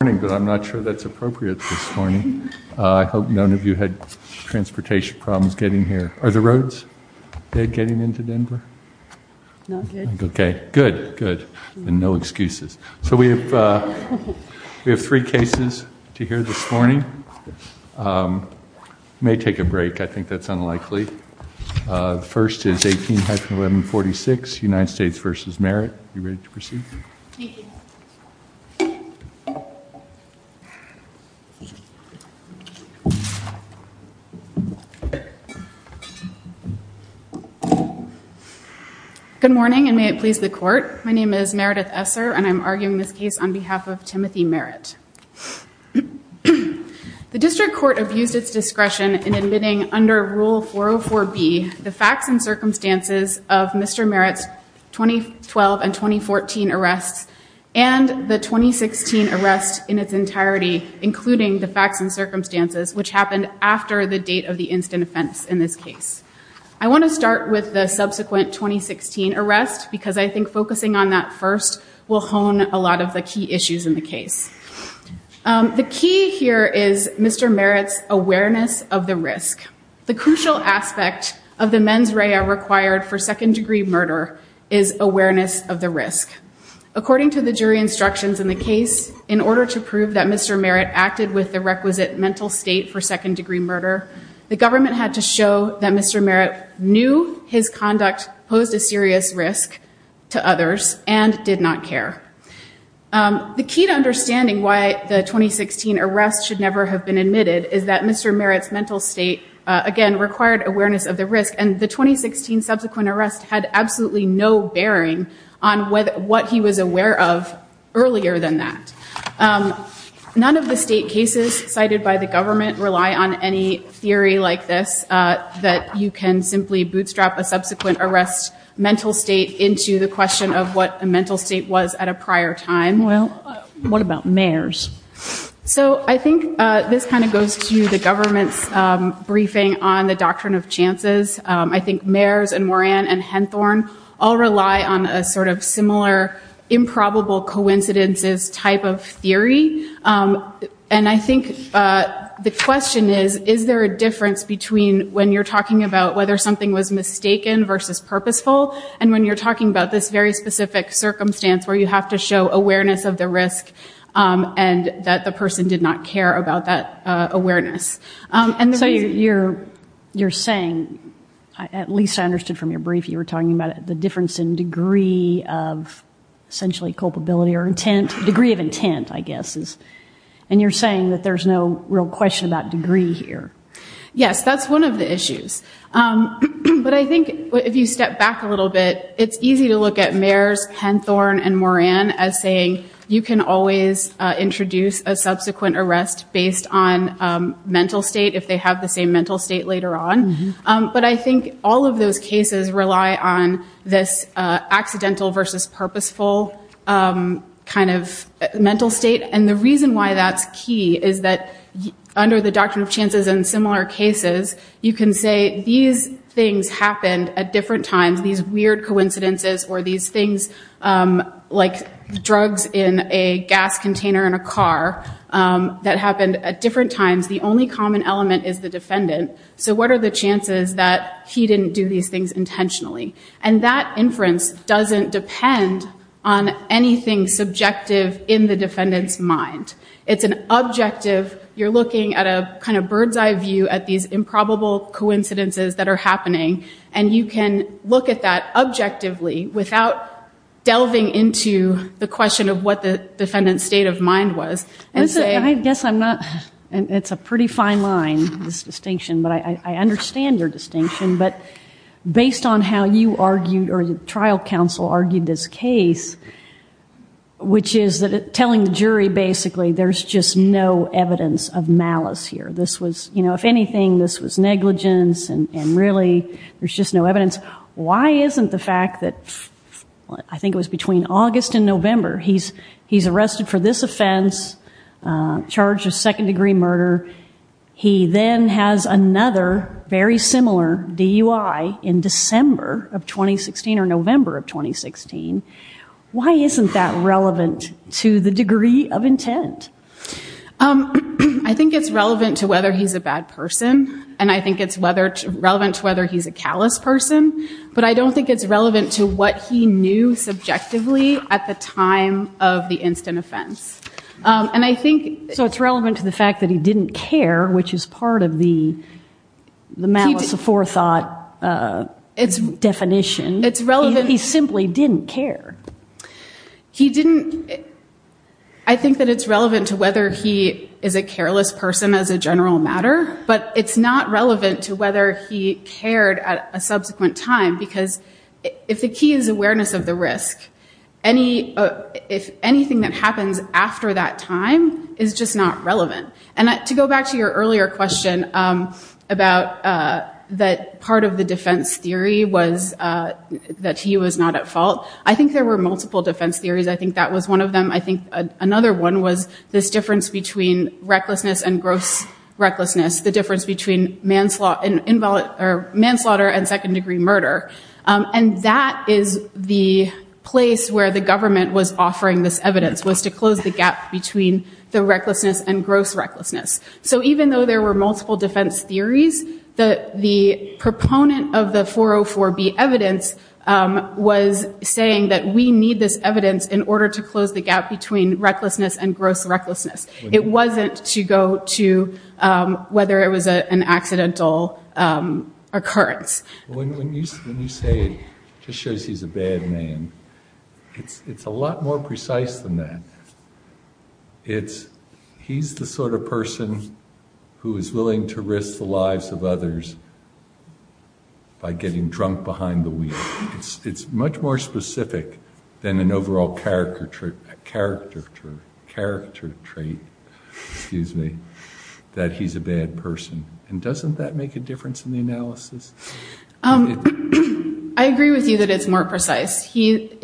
. Are the roads getting into Denver? Good. No excuses. We have three cases to hear this morning. May take a break. I think that's unlikely. The first is Mr. Merritt's case on behalf of Timothy Merritt. Good morning and may it please the court. My name is Meredith Essar and I'm arguing this case on behalf of Timothy Merritt. The district court abused its discretion in admitting under rule 404B the facts and circumstances of Mr. Merritt's 2012 and 2014 arrests and the 2016 arrest in its entirety including the facts and circumstances which happened after the date of the instant offense in this case. I want to start with the subsequent 2016 arrest because I think focusing on that first will hone a lot of the key issues in the case. The key here is Mr. Merritt's awareness of the risk. The crucial aspect of the mens rea required for second degree murder is awareness of the risk. According to the jury instructions in the case, in order to prove that Mr. Merritt acted with the requisite mental state for second degree murder, the government had to show that Mr. Merritt knew his conduct posed a serious risk to others and did not care. The key to understanding why the 2016 arrest should never have been admitted is that Mr. Merritt's mental state again required awareness of the risk and the 2016 subsequent arrest had absolutely no bearing on what he was aware of earlier than that. None of the state cases cited by the government rely on any theory like this that you can simply bootstrap a subsequent arrest mental state into the question of what a mental state was at a prior time. So I think this kind of goes to the government's briefing on the doctrine of chances. I think Meyers and Moran and Henthorne all rely on a sort of similar improbable coincidences type of theory. And I think the question is, is there a difference between when you're talking about whether something was mistaken versus purposeful and when you're talking about this very specific circumstance where you have to show awareness of the risk and that the person did not care about that awareness. So you're saying and at least I understood from your brief you were talking about the difference in degree of essentially culpability or intent, degree of intent I guess. And you're saying that there's no real question about degree here. Yes, that's one of the issues. But I think if you step back a little bit, it's easy to look at Meyers, Henthorne and Moran as saying you can always introduce a subsequent arrest based on mental state if they have the same mental state later on. But I think all of those cases rely on this accidental versus purposeful kind of mental state. And the reason why that's key is that under the doctrine of chances and similar cases, you can say these things happened at different times, these weird coincidences or these things like drugs in a gas container in a car that happened at different times. The only common element is the defendant. So what are the chances that he didn't do these things intentionally? And that inference doesn't depend on anything subjective in the defendant's mind. It's an objective. You're looking at a kind of bird's eye view at these improbable coincidences that are happening. And you can look at that objectively without delving into the question of what the defendant's state of mind was. I guess I'm not, it's a pretty fine line, this distinction. But I understand your distinction. But based on how you argued or the trial counsel argued this case, which is telling the jury basically there's just no evidence of malice here. This was, if anything, this was negligence and really there's just no evidence. Why isn't the fact that, I think it was between August and November, he's charged a second degree murder. He then has another very similar DUI in December of 2016 or November of 2016. Why isn't that relevant to the degree of intent? I think it's relevant to whether he's a bad person. And I think it's relevant to whether he's a callous person. But I don't think it's relevant to what he knew subjectively at the time of the instant offense. So it's relevant to the fact that he didn't care, which is part of the malice aforethought definition. He simply didn't care. I think that it's relevant to whether he is a careless person as a general matter. But it's not relevant to whether he cared at a subsequent time. Because if the key is awareness of the risk, if anything that happens after that time is just not relevant. And to go back to your earlier question about that part of the defense theory was that he was not at fault. I think there were multiple defense theories. I think that was one of them. I think another one was this difference between recklessness and gross recklessness. The difference between manslaughter and second degree murder. And that is the place where the government was offering this evidence was to close the gap between the recklessness and gross recklessness. So even though there were multiple defense theories, the proponent of the 404B evidence was saying that we need this evidence in order to close the gap between recklessness and gross recklessness. It wasn't to go to whether it was an accidental occurrence. When you say it just shows he's a bad man, it's a lot more precise than that. He's the sort of person who is willing to risk the lives of others by getting drunk behind the wheel. It's much more specific than an overall character trait that he's a bad person. And doesn't that make a difference in the analysis? I agree with you that it's more precise. It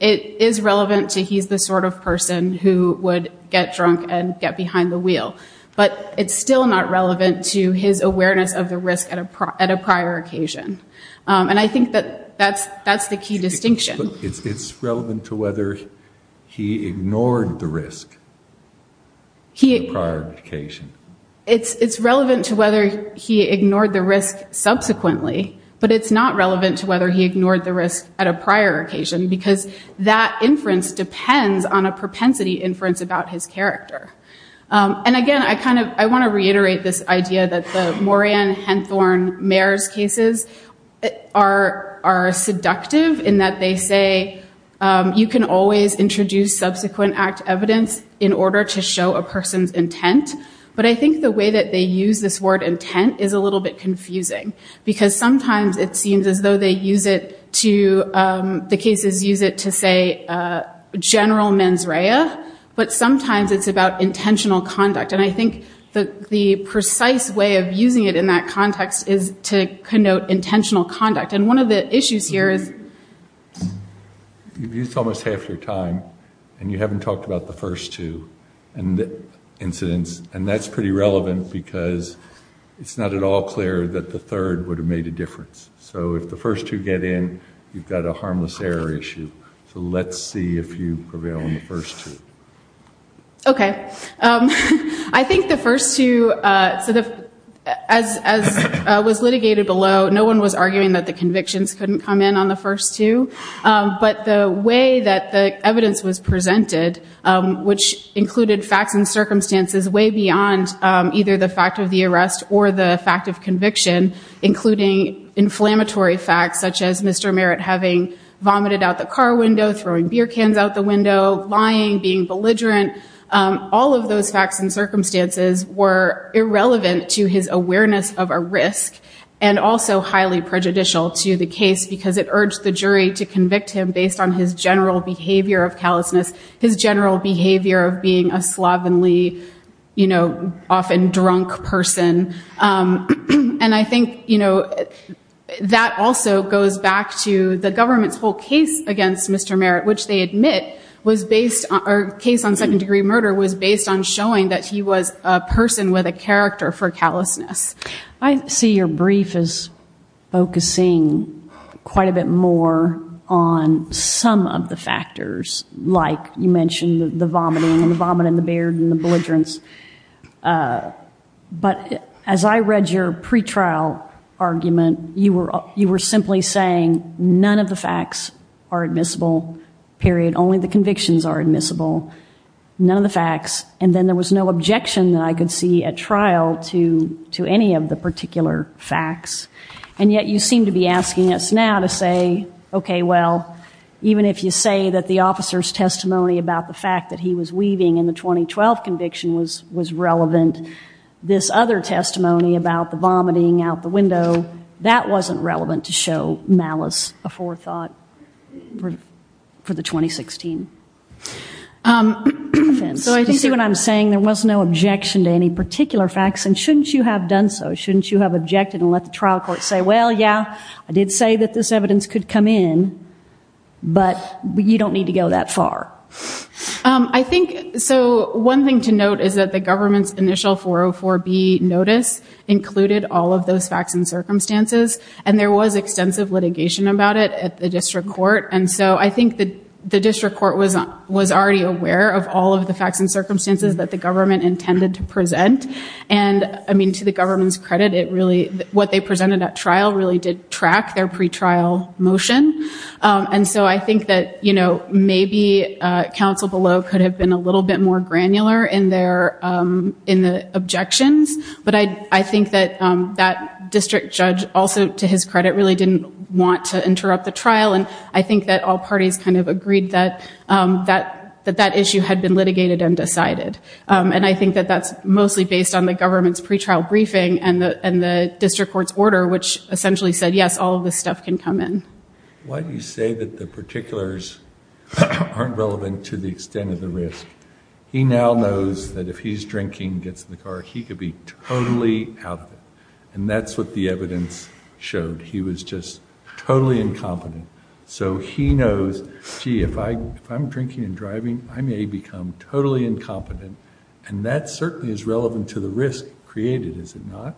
is relevant to he's the sort of person who would get drunk and get behind the wheel. But it's still not relevant to his awareness of the risk at a prior occasion. And I think that's the key distinction. It's relevant to whether he ignored the risk at a prior occasion. It's relevant to whether he ignored the risk subsequently. But it's not relevant to whether he ignored the risk at a prior occasion because that inference depends on a propensity inference about his character. And again, I want to reiterate this idea that the Moran-Henthorne-Meyers cases are seductive in that they say you can always introduce subsequent act evidence in order to show a person's intent. But I think the way that they use this word intent is a little bit confusing. Because sometimes it seems as though they use it to, the cases use it to say general mens rea. But sometimes it's about intentional conduct. And I think the precise way of using it in that context is to connote intentional conduct. And one of the issues here is You've used almost half your time and you haven't talked about the first two incidents. And that's pretty relevant because it's not at all clear that the third would have made a difference. So if the first two get in, you've got a harmless error issue. So let's see if you prevail on the first two. Okay. I think the first two as was litigated below, no one was arguing that the convictions couldn't come in on the first two. But the way that the evidence was presented, which included facts and circumstances way beyond either the fact of the arrest or the fact of conviction, including inflammatory facts such as Mr. Merritt having vomited out the car window, throwing beer cans out the window, lying, being belligerent, all of those facts and circumstances were irrelevant to his awareness of a risk and also highly prejudicial to the case because it urged the jury to look at his general behavior of callousness, his general behavior of being a slovenly, often drunk person. And I think that also goes back to the government's whole case against Mr. Merritt, which they admit was based, or case on second degree murder was based on showing that he was a person with a character for callousness. I see your brief as focusing quite a bit more on some of the factors, like you mentioned the vomiting and the vomit and the beard and the belligerence. But as I read your pretrial argument you were simply saying none of the facts are admissible. Period. Only the convictions are admissible. None of the facts. And then there was no objection that I could see at trial to us now to say, okay, well, even if you say that the officer's testimony about the fact that he was weaving in the 2012 conviction was relevant, this other testimony about the vomiting out the window, that wasn't relevant to show malice aforethought for the 2016. So I can see what I'm saying. There was no objection to any particular facts and shouldn't you have done so? Shouldn't you have objected and let the trial say that this evidence could come in, but you don't need to go that far? I think, so one thing to note is that the government's initial 404B notice included all of those facts and circumstances. And there was extensive litigation about it at the district court. And so I think the district court was already aware of all of the facts and circumstances that the government intended to present. And, I mean, to the government's credit, it really, what they presented at trial really did track their pretrial motion. And so I think that maybe counsel below could have been a little bit more granular in the objections. But I think that that district judge also, to his credit, really didn't want to interrupt the trial. And I think that all parties kind of agreed that that issue had been litigated and decided. And I think that that's mostly based on the government's pretrial briefing and the district court's order, which essentially said, yes, all of this stuff can come in. Why do you say that the particulars aren't relevant to the extent of the risk? He now knows that if he's drinking and gets in the car, he could be totally out. And that's what the evidence showed. He was just totally incompetent. So he knows, gee, if I'm drinking and driving, I may become totally incompetent. And that certainly is relevant to the risk created, is it not?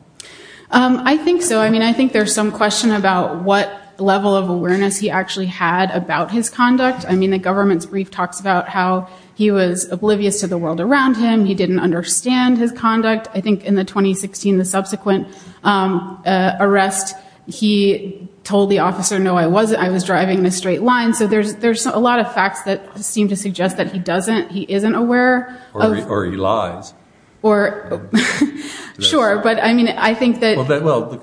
I think so. I mean, I think there's some question about what level of awareness he actually had about his conduct. I mean, the government's brief talks about how he was oblivious to the world around him. He didn't understand his conduct. I think in the 2016, the subsequent arrest, he told the officer, no, I wasn't. I was driving in a straight line. So there's a lot of facts that seem to suggest that he doesn't, he isn't aware. Or he lies. Well, the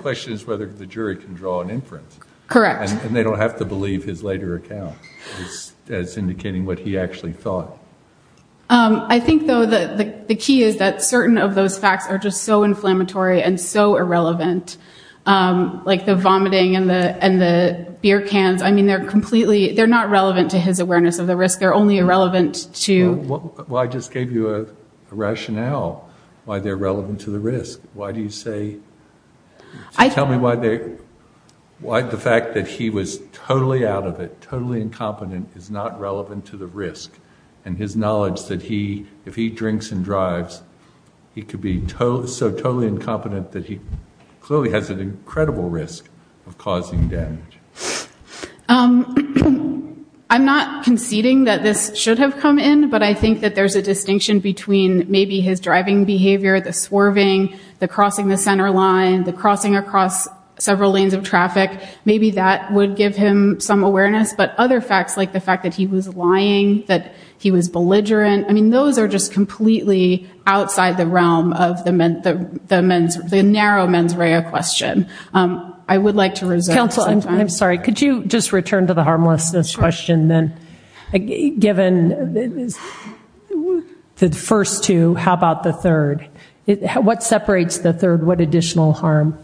question is whether the jury can draw an inference. Correct. And they don't have to believe his later account as indicating what he actually thought. I think, though, the key is that certain of those facts are just so inflammatory and so irrelevant. Like the vomiting and the beer cans. I mean, they're not relevant to his awareness of the risk. They're only facts that give you a rationale why they're relevant to the risk. Why do you say, tell me why the fact that he was totally out of it, totally incompetent, is not relevant to the risk. And his knowledge that he, if he drinks and drives, he could be so totally incompetent that he clearly has an incredible risk of causing damage. I'm not conceding that this should have come in. But I think that there's a distinction between maybe his driving behavior, the swerving, the crossing the center line, the crossing across several lanes of traffic. Maybe that would give him some awareness. But other facts, like the fact that he was lying, that he was belligerent, I mean, those are just completely outside the realm of the narrow mens rea question. I would like to reserve some time. Counsel, I'm sorry. Could you just return to the harmlessness question, then? Given the first two, how about the third? What separates the third? What additional harm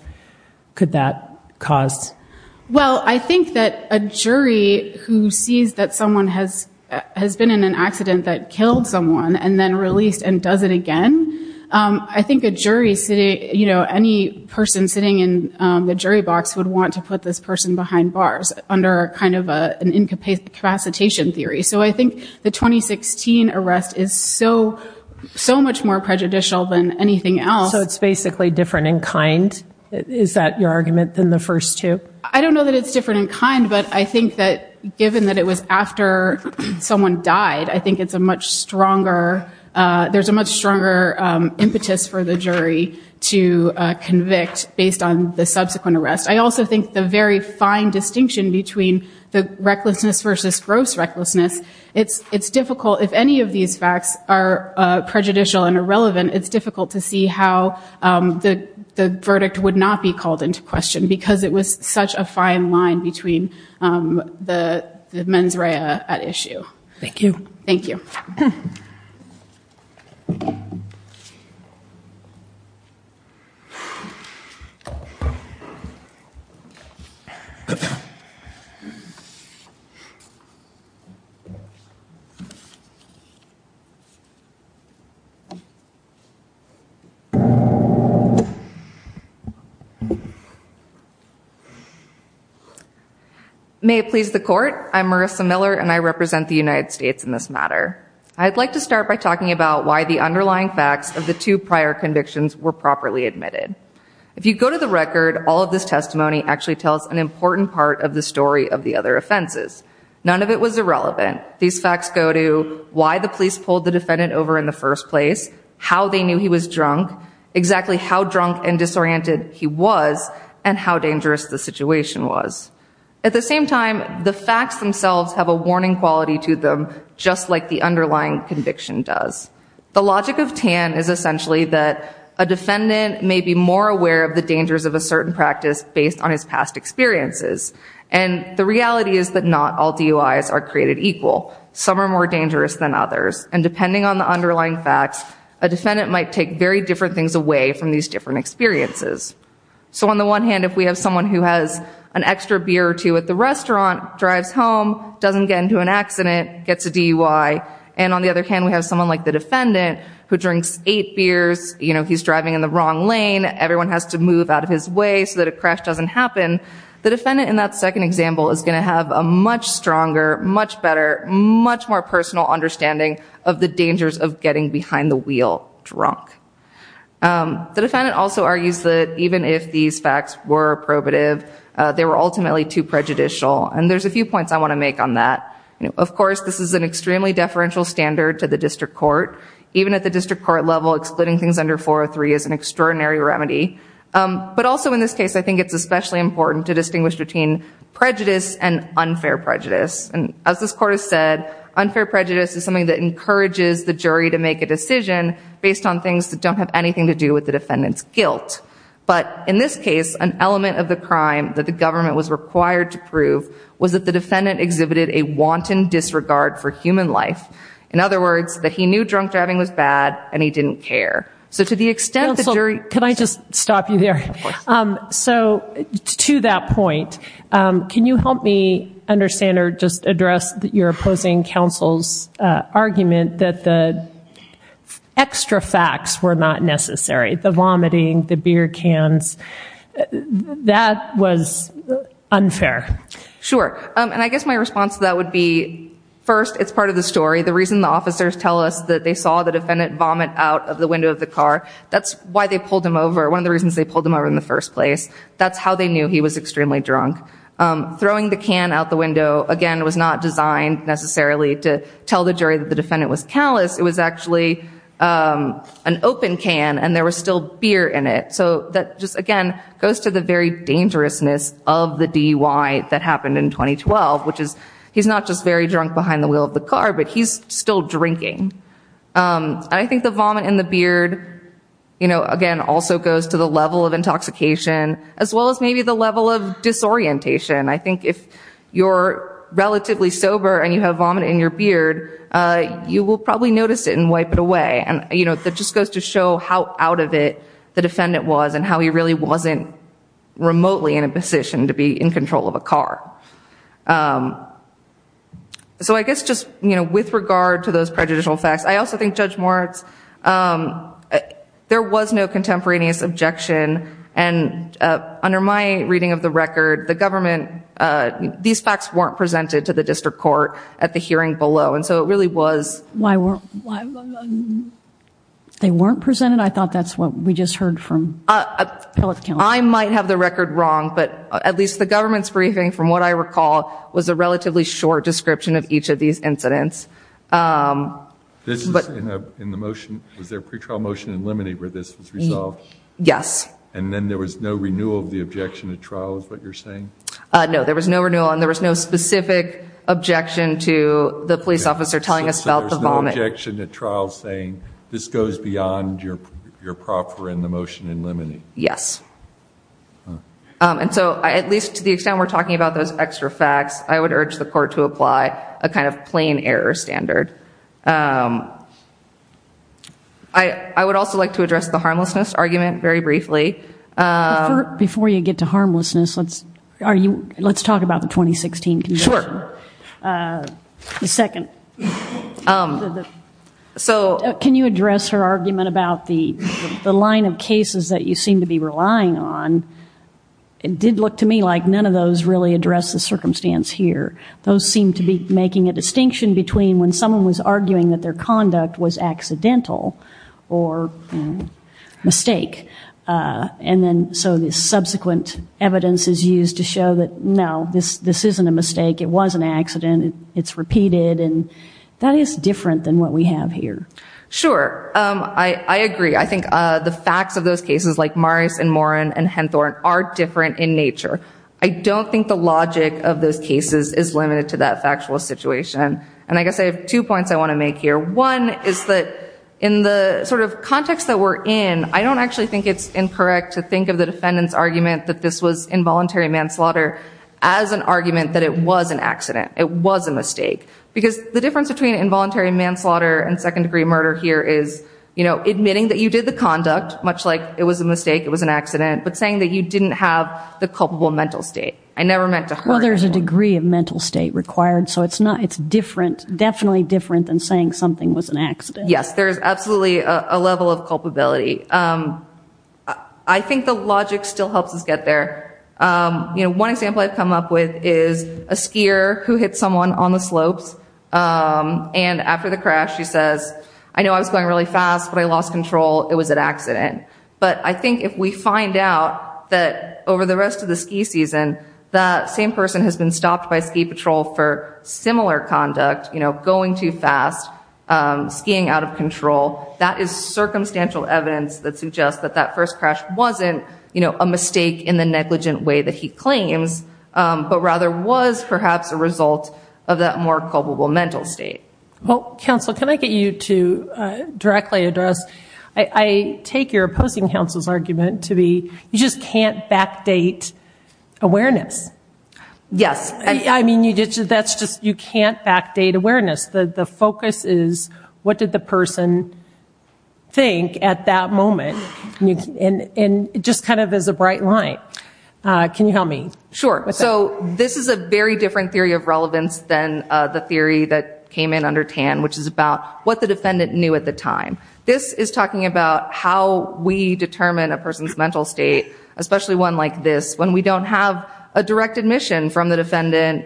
could that cause? Well, I think that a jury who sees that someone has been in an accident that killed someone and then released and does it again, I think a jury, you know, any person sitting in the jury box would want to put this person behind bars under kind of an incapacitation theory. So I think the 2016 arrest is so much more prejudicial than anything else. So it's basically different in kind? Is that your argument than the first two? I don't know that it's different in kind, but I think that given that it was after someone died, I think it's a much stronger, there's a much stronger impetus for the jury to convict based on the subsequent arrest. I also think the very fine distinction between the recklessness versus gross recklessness, it's difficult, if any of these facts are prejudicial and irrelevant, it's difficult to see how the verdict would not be called into question because it was such a fine line between the mens rea at issue. Thank you. Thank you. Thank you. May it please the court, I'm Marissa Miller and I represent the United States in this matter. I'd like to start by talking about why the underlying facts of the two prior convictions were properly admitted. If you go to the record, all of this testimony actually tells an important part of the story of the other offenses. None of it was irrelevant. These facts go to why the police pulled the defendant over in the first place, how they knew he was drunk, exactly how drunk and disoriented he was, and how dangerous the situation was. At the same time, the facts themselves have a warning quality to them just like the underlying conviction does. The logic of TAN is essentially that a defendant may be more aware of the dangers of a certain practice based on his past experiences. And the reality is that not all DUIs are created equal. Some are more dangerous than others. And depending on the underlying facts, a defendant might take very different things away from these different experiences. So on the one hand, if we have someone who has an extra beer or two at the restaurant, drives home, doesn't get into an accident, gets a DUI, and on the other hand we have someone like the defendant who drinks eight beers, he's driving in the wrong lane, everyone has to move out of his way so that a crash doesn't happen, the defendant in that second example is going to have a much stronger, much better, much more personal understanding of the dangers of getting behind the wheel drunk. The defendant also argues that even if these facts were probative, they were ultimately too prejudicial. And there's a few points I want to make on that. Of course, this is an extremely deferential standard to the district court. Even at the district court level, excluding things under 403 is an extraordinary remedy. But also in this case, I think it's especially important to distinguish between prejudice and unfair prejudice. And as this Court has said, unfair prejudice is something that encourages the jury to make a decision based on things that don't have anything to do with the defendant's guilt. But in this case, an element of the crime that the government was required to prove was that the defendant exhibited a wanton disregard for human life. In other words, that he knew drunk driving was bad and he didn't care. So to the extent the jury... Can I just stop you there? So to that point, can you help me understand or just address your opposing counsel's argument that the extra facts were not necessary? The vomiting, the beer cans. That was unfair. Sure. And I guess my response to that would be, first, it's part of the story. The reason the officers tell us that they saw the defendant vomit out of the window of the car, that's why they pulled him over. One of the reasons they pulled him over in the first place. That's how they knew he was extremely drunk. Throwing the can out the window, again, was not designed necessarily to tell the jury that the defendant was callous. It was actually an open can and there was still beer in it. So that just, again, goes to the very dangerousness of the DUI that happened in 2012, which is he's not just very drunk behind the wheel of the car, but he's still drinking. I think the vomit in the beard, again, also goes to the level of intoxication, as well as maybe the level of disorientation. I think if you're relatively sober and you have vomit in your beard, you will probably notice it and wipe it away. That just goes to show how out of it the defendant was and how he really wasn't remotely in a position to be in control of a car. So I guess just with regard to those prejudicial facts, I also think Judge Moritz, there was no contemporaneous objection and under my reading of the record, the government, these facts weren't presented to the district court at the hearing below and so it really was... They weren't presented? I thought that's what we just heard from the public. I might have the record wrong, but at least the government's briefing from what I recall was a relatively short description of each of these incidents. Was there a pre-trial motion in limine where this was resolved? Yes. And then there was no renewal of the objection at trial, is what you're saying? No, there was no renewal and there was no specific objection to the police officer telling us about the vomit. So there was no objection at trial saying this goes beyond your rights. And so at least to the extent we're talking about those extra facts, I would urge the court to apply a kind of plain error standard. I would also like to address the harmlessness argument very briefly. Before you get to harmlessness, let's talk about the 2016 conviction. Sure. Can you address her argument about the line of cases that you seem to be relying on? It did look to me like none of those really address the circumstance here. Those seem to be making a distinction between when someone was arguing that their conduct was accidental or mistake and then so this subsequent evidence is used to show that no, this isn't a mistake. It was an accident. It's repeated and that is different than what we have here. Sure. I agree. I think the facts of those cases like Morris and Morin and Henthorne are different in nature. I don't think the logic of those cases is limited to that factual situation. And I guess I have two points I want to make here. One is that in the sort of context that we're in, I don't actually think it's incorrect to think of the defendant's argument that this was involuntary manslaughter as an argument that it was an accident. It was a mistake. Because the difference between involuntary manslaughter and second-degree murder here is admitting that you did the conduct much like it was a mistake, it was an accident, but saying that you didn't have the culpable mental state. I never meant to hurt you. Well, there's a degree of mental state required so it's definitely different than saying something was an accident. Yes, there's absolutely a level of culpability. I think the logic still helps us get there. One example I've come up with is a skier who hit someone on the slopes and after the crash she says, I know I was going really fast but I lost control, it was an accident. But I think if we find out that over the rest of the ski season that same person has been stopped by ski patrol for similar conduct, you know, going too fast, skiing out of control, that is circumstantial evidence that suggests that that first crash wasn't a mistake in the negligent way that he claims, but rather was perhaps a result of that more culpable mental state. Well, counsel, can I get you to directly address, I take your opposing counsel's argument to be, you just can't backdate awareness. Yes. I mean, that's just you can't backdate awareness. The focus is what did the person think at that moment and just kind of as a bright light. Can you help me? Sure. So this is a very different theory of relevance than the theory that came in under TAN, which is about what the defendant knew at the time. This is talking about how we determine a person's mental state, especially one like this, when we don't have a direct admission from the defendant,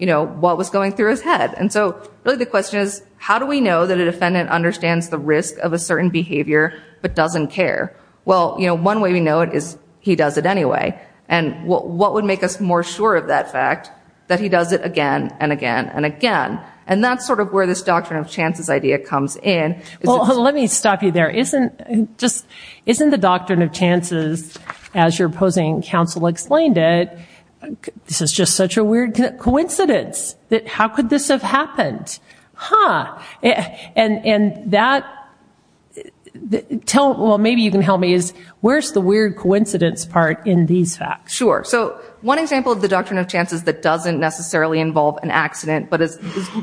you know, what was going through his head. And so really the question is, how do we know that a defendant understands the risk of a certain behavior but doesn't care? Well, you know, one way we know it is he does it anyway. And what would make us more sure of that fact? That he does it again and again and again. And that's sort of where this doctrine of chances idea comes in. Well, let me stop you there. Isn't the doctrine of chances, as your opposing counsel explained it, this is just such a weird coincidence. How could this have happened? Huh. And that, maybe you can tell me, is where's the weird coincidence part in these facts? Sure. So one example of the doctrine of chances that doesn't necessarily involve an accident but is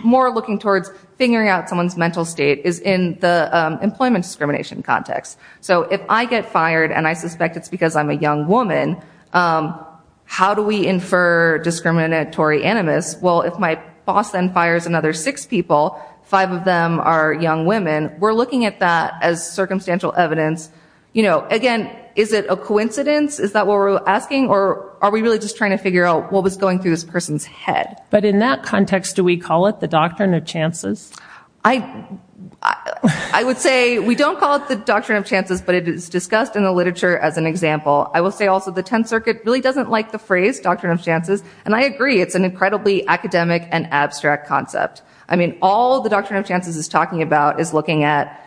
more looking towards figuring out someone's mental state is in the employment discrimination context. So if I get fired and I suspect it's because I'm a young woman, how do we infer discriminatory animus? Well, if my boss then fires another six people, five of them are young women, we're looking at that as circumstantial evidence. Again, is it a coincidence? Is that what we're asking? Or are we really just trying to figure out what was going through this person's head? But in that context, do we call it the doctrine of chances? I would say we don't call it the doctrine of chances, but it is discussed in the literature as an example. I will say also the 10th Circuit really doesn't like the phrase doctrine of chances. And I agree, it's an incredibly academic and abstract concept. I mean, all the doctrine of chances is talking about is looking at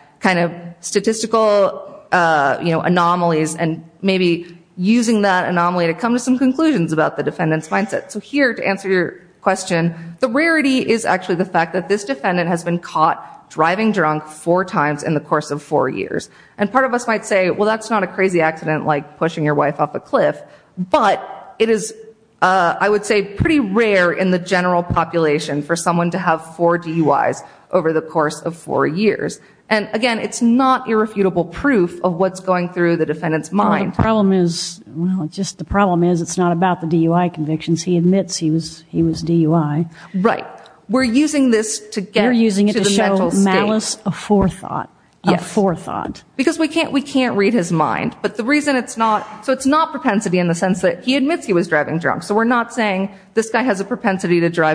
statistical anomalies and maybe using that anomaly to come to some conclusions about the defendant's mindset. So here, to answer your question, the rarity is actually the fact that this defendant has been caught driving drunk four times in the course of four years. And part of us might say, well, that's not a crazy accident like pushing your wife off a cliff, but it is I would say pretty rare in the general population for someone to have four years. And again, it's not irrefutable proof of what's going through the defendant's mind. Well, the problem is, well, it's just the problem is it's not about the DUI convictions. He admits he was DUI. Right. We're using this to get to the mental state. You're using it to show malice of forethought. Yes. Of forethought. Because we can't read his mind. But the reason it's not, so it's not propensity in the sense that he admits he was driving drunk. So we're not saying this guy has a propensity to drive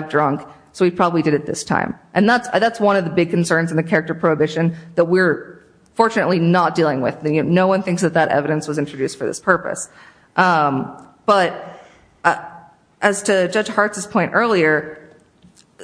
character prohibition that we're fortunately not dealing with. No one thinks that that evidence was introduced for this purpose. But as to Judge Hart's point earlier,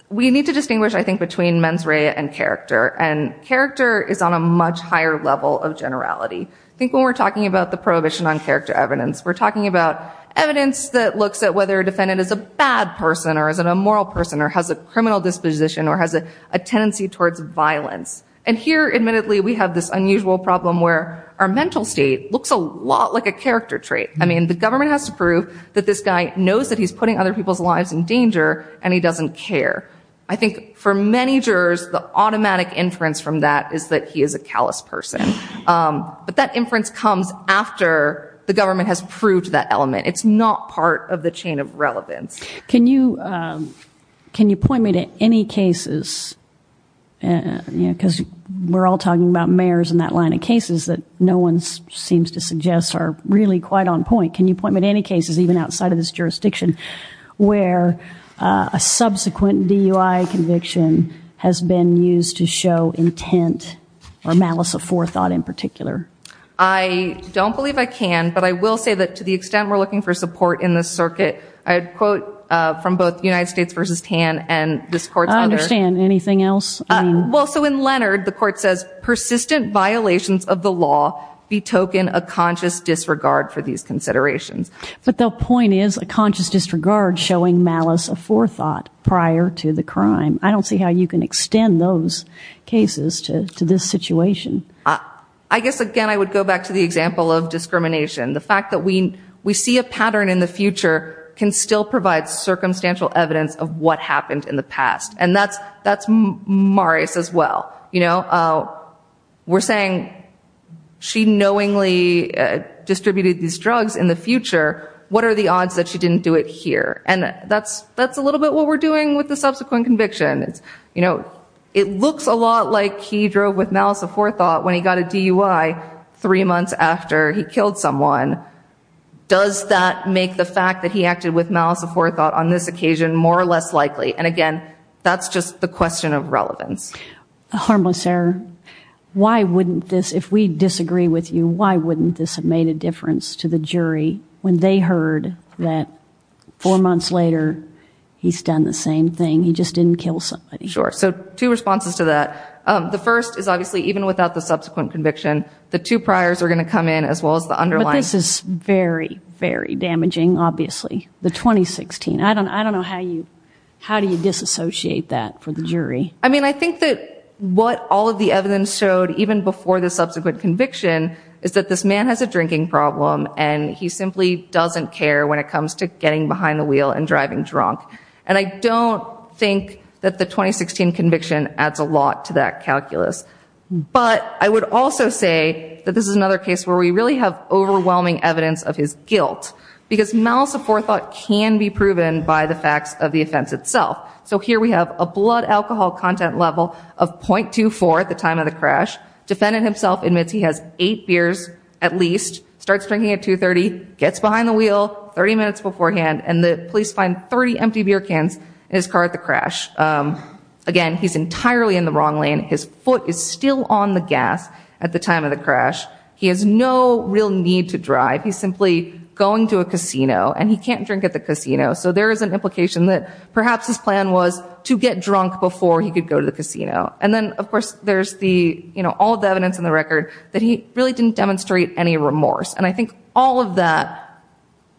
we need to distinguish, I think, between mens rea and character. And character is on a much higher level of generality. I think when we're talking about the prohibition on character evidence, we're talking about evidence that looks at whether a defendant is a bad person or is an immoral person or has a criminal disposition or has a tendency towards violence. And here, admittedly, we have this unusual problem where our mental state looks a lot like a character trait. I mean, the government has to prove that this guy knows that he's putting other people's lives in danger and he doesn't care. I think for many jurors, the automatic inference from that is that he is a callous person. But that inference comes after the government has proved that element. It's not part of the chain of relevance. Can you point me to any cases because we're all talking about mayors and that line of cases that no one seems to suggest are really quite on point. Can you point me to any cases, even outside of this jurisdiction, where a subsequent DUI conviction has been used to show intent or malice of forethought in particular? I don't believe I can, but I will say that to the extent we're looking for support in this circuit, I'd quote from both United States v. Tan and this court's other... I don't understand. Anything else? Well, so in Leonard, the court says, persistent violations of the law betoken a conscious disregard for these considerations. But the point is a conscious disregard showing malice of forethought prior to the crime. I don't see how you can extend those cases to this situation. I guess, again, I would go back to the example of discrimination. The fact that we see a pattern in the future can still provide circumstantial evidence of what happened in the past. And that's Maris as well. We're saying she knowingly distributed these drugs in the future. What are the odds that she didn't do it here? And that's a little bit what we're doing with the subsequent conviction. It looks a lot like he drove with malice of forethought when he got a DUI three months after he killed someone. Does that make the fact that he acted with malice of forethought on this occasion more or less likely? And again, that's just the question of relevance. Harmless Sarah, why wouldn't this, if we disagree with you, why wouldn't this have made a difference to the jury when they heard that four months later, he's done the same thing. He just didn't kill somebody. Sure. So two responses to that. The first is obviously even without the subsequent conviction, the two priors are going to come in as well as the underlying. But this is very, very damaging, obviously. The 2016. I don't know how you, how do you disassociate that for the jury? I mean, I think that what all of the evidence showed, even before the subsequent conviction, is that this man has a drinking problem and he simply doesn't care when it comes to getting behind the wheel and driving drunk. And I don't think that the 2016 conviction adds a lot to that calculus. But I would also say that this is another case where we really have overwhelming evidence of his guilt because malice of forethought can be proven by the facts of the offense itself. So here we have a blood alcohol content level of 0.24 at the time of the crash. Defendant himself admits he has eight beers at least, starts drinking at 2.30, gets behind the wheel 30 minutes beforehand, and the police find 30 empty beer cans in his car at the crash. Again, he's entirely in the wrong lane. His foot is still on the gas at the time of the crash. He has no real need to drive. He's simply going to a casino and he can't drink at the casino. So there is an implication that perhaps his plan was to get drunk before he could go to the casino. And then, of course, there's the, you know, all the evidence in the record that he really didn't demonstrate any remorse. And I think all of that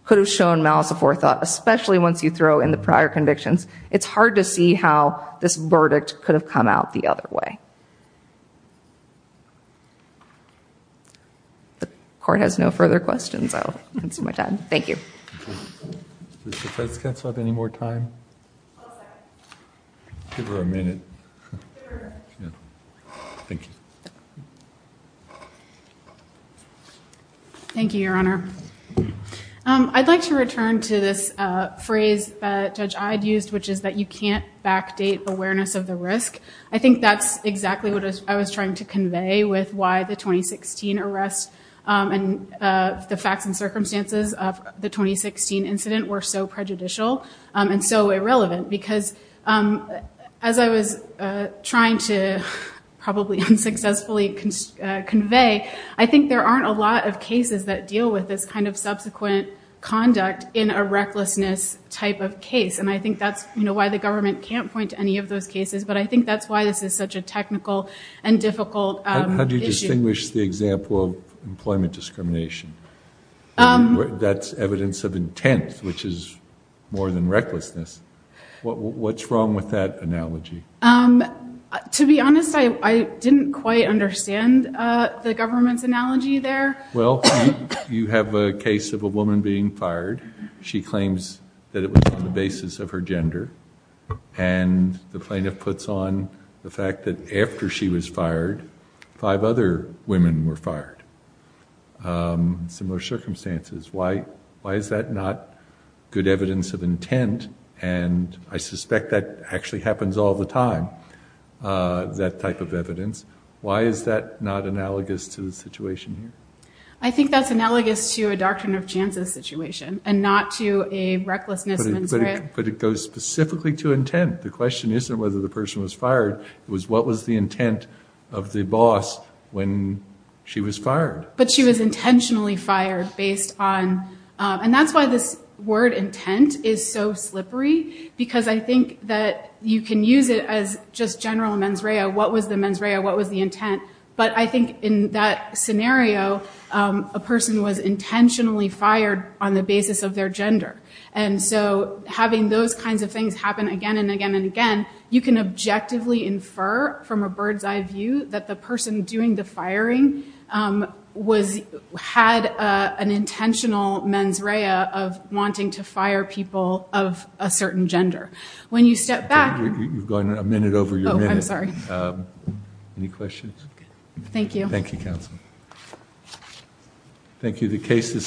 could have shown malice of forethought, especially once you throw in the how this verdict could have come out the other way. If the court has no further questions, I'll consume my time. Thank you. Does the defense have any more time? I'll give her a minute. Thank you, Your Honor. I'd like to return to this phrase that I'd used, which is that you can't backdate awareness of the risk. I think that's exactly what I was trying to convey with why the 2016 arrest and the facts and circumstances of the 2016 incident were so prejudicial and so irrelevant. Because as I was trying to probably unsuccessfully convey, I think there aren't a lot of cases that deal with this kind of subsequent conduct in a way. And I think that's why the government can't point to any of those cases, but I think that's why this is such a technical and difficult issue. How do you distinguish the example of employment discrimination? That's evidence of intent, which is more than recklessness. What's wrong with that analogy? To be honest, I didn't quite understand the government's analogy there. Well, you have a case of a woman being fired. She claims that it was on the basis of her gender. And the plaintiff puts on the fact that after she was fired, five other women were fired. Similar circumstances. Why is that not good evidence of intent? And I suspect that actually happens all the time, that type of evidence. Why is that not analogous to the situation here? I think that's analogous to a Doctrine of Chances situation and not to a recklessness mens rea. But it goes specifically to intent. The question isn't whether the person was fired. It was what was the intent of the boss when she was fired. But she was intentionally fired based on and that's why this word intent is so slippery. Because I think that you can use it as just general mens rea. What was the mens rea? What was the intent? But I think in that scenario, a person was intentionally fired on the basis of their gender. And so having those kinds of things happen again and again and again, you can objectively infer from a bird's eye view that the person doing the firing had an intentional mens rea of wanting to fire people of a certain gender. When you step back... You've gone a minute over your minute. Any questions? Thank you. Thank you. The case is submitted.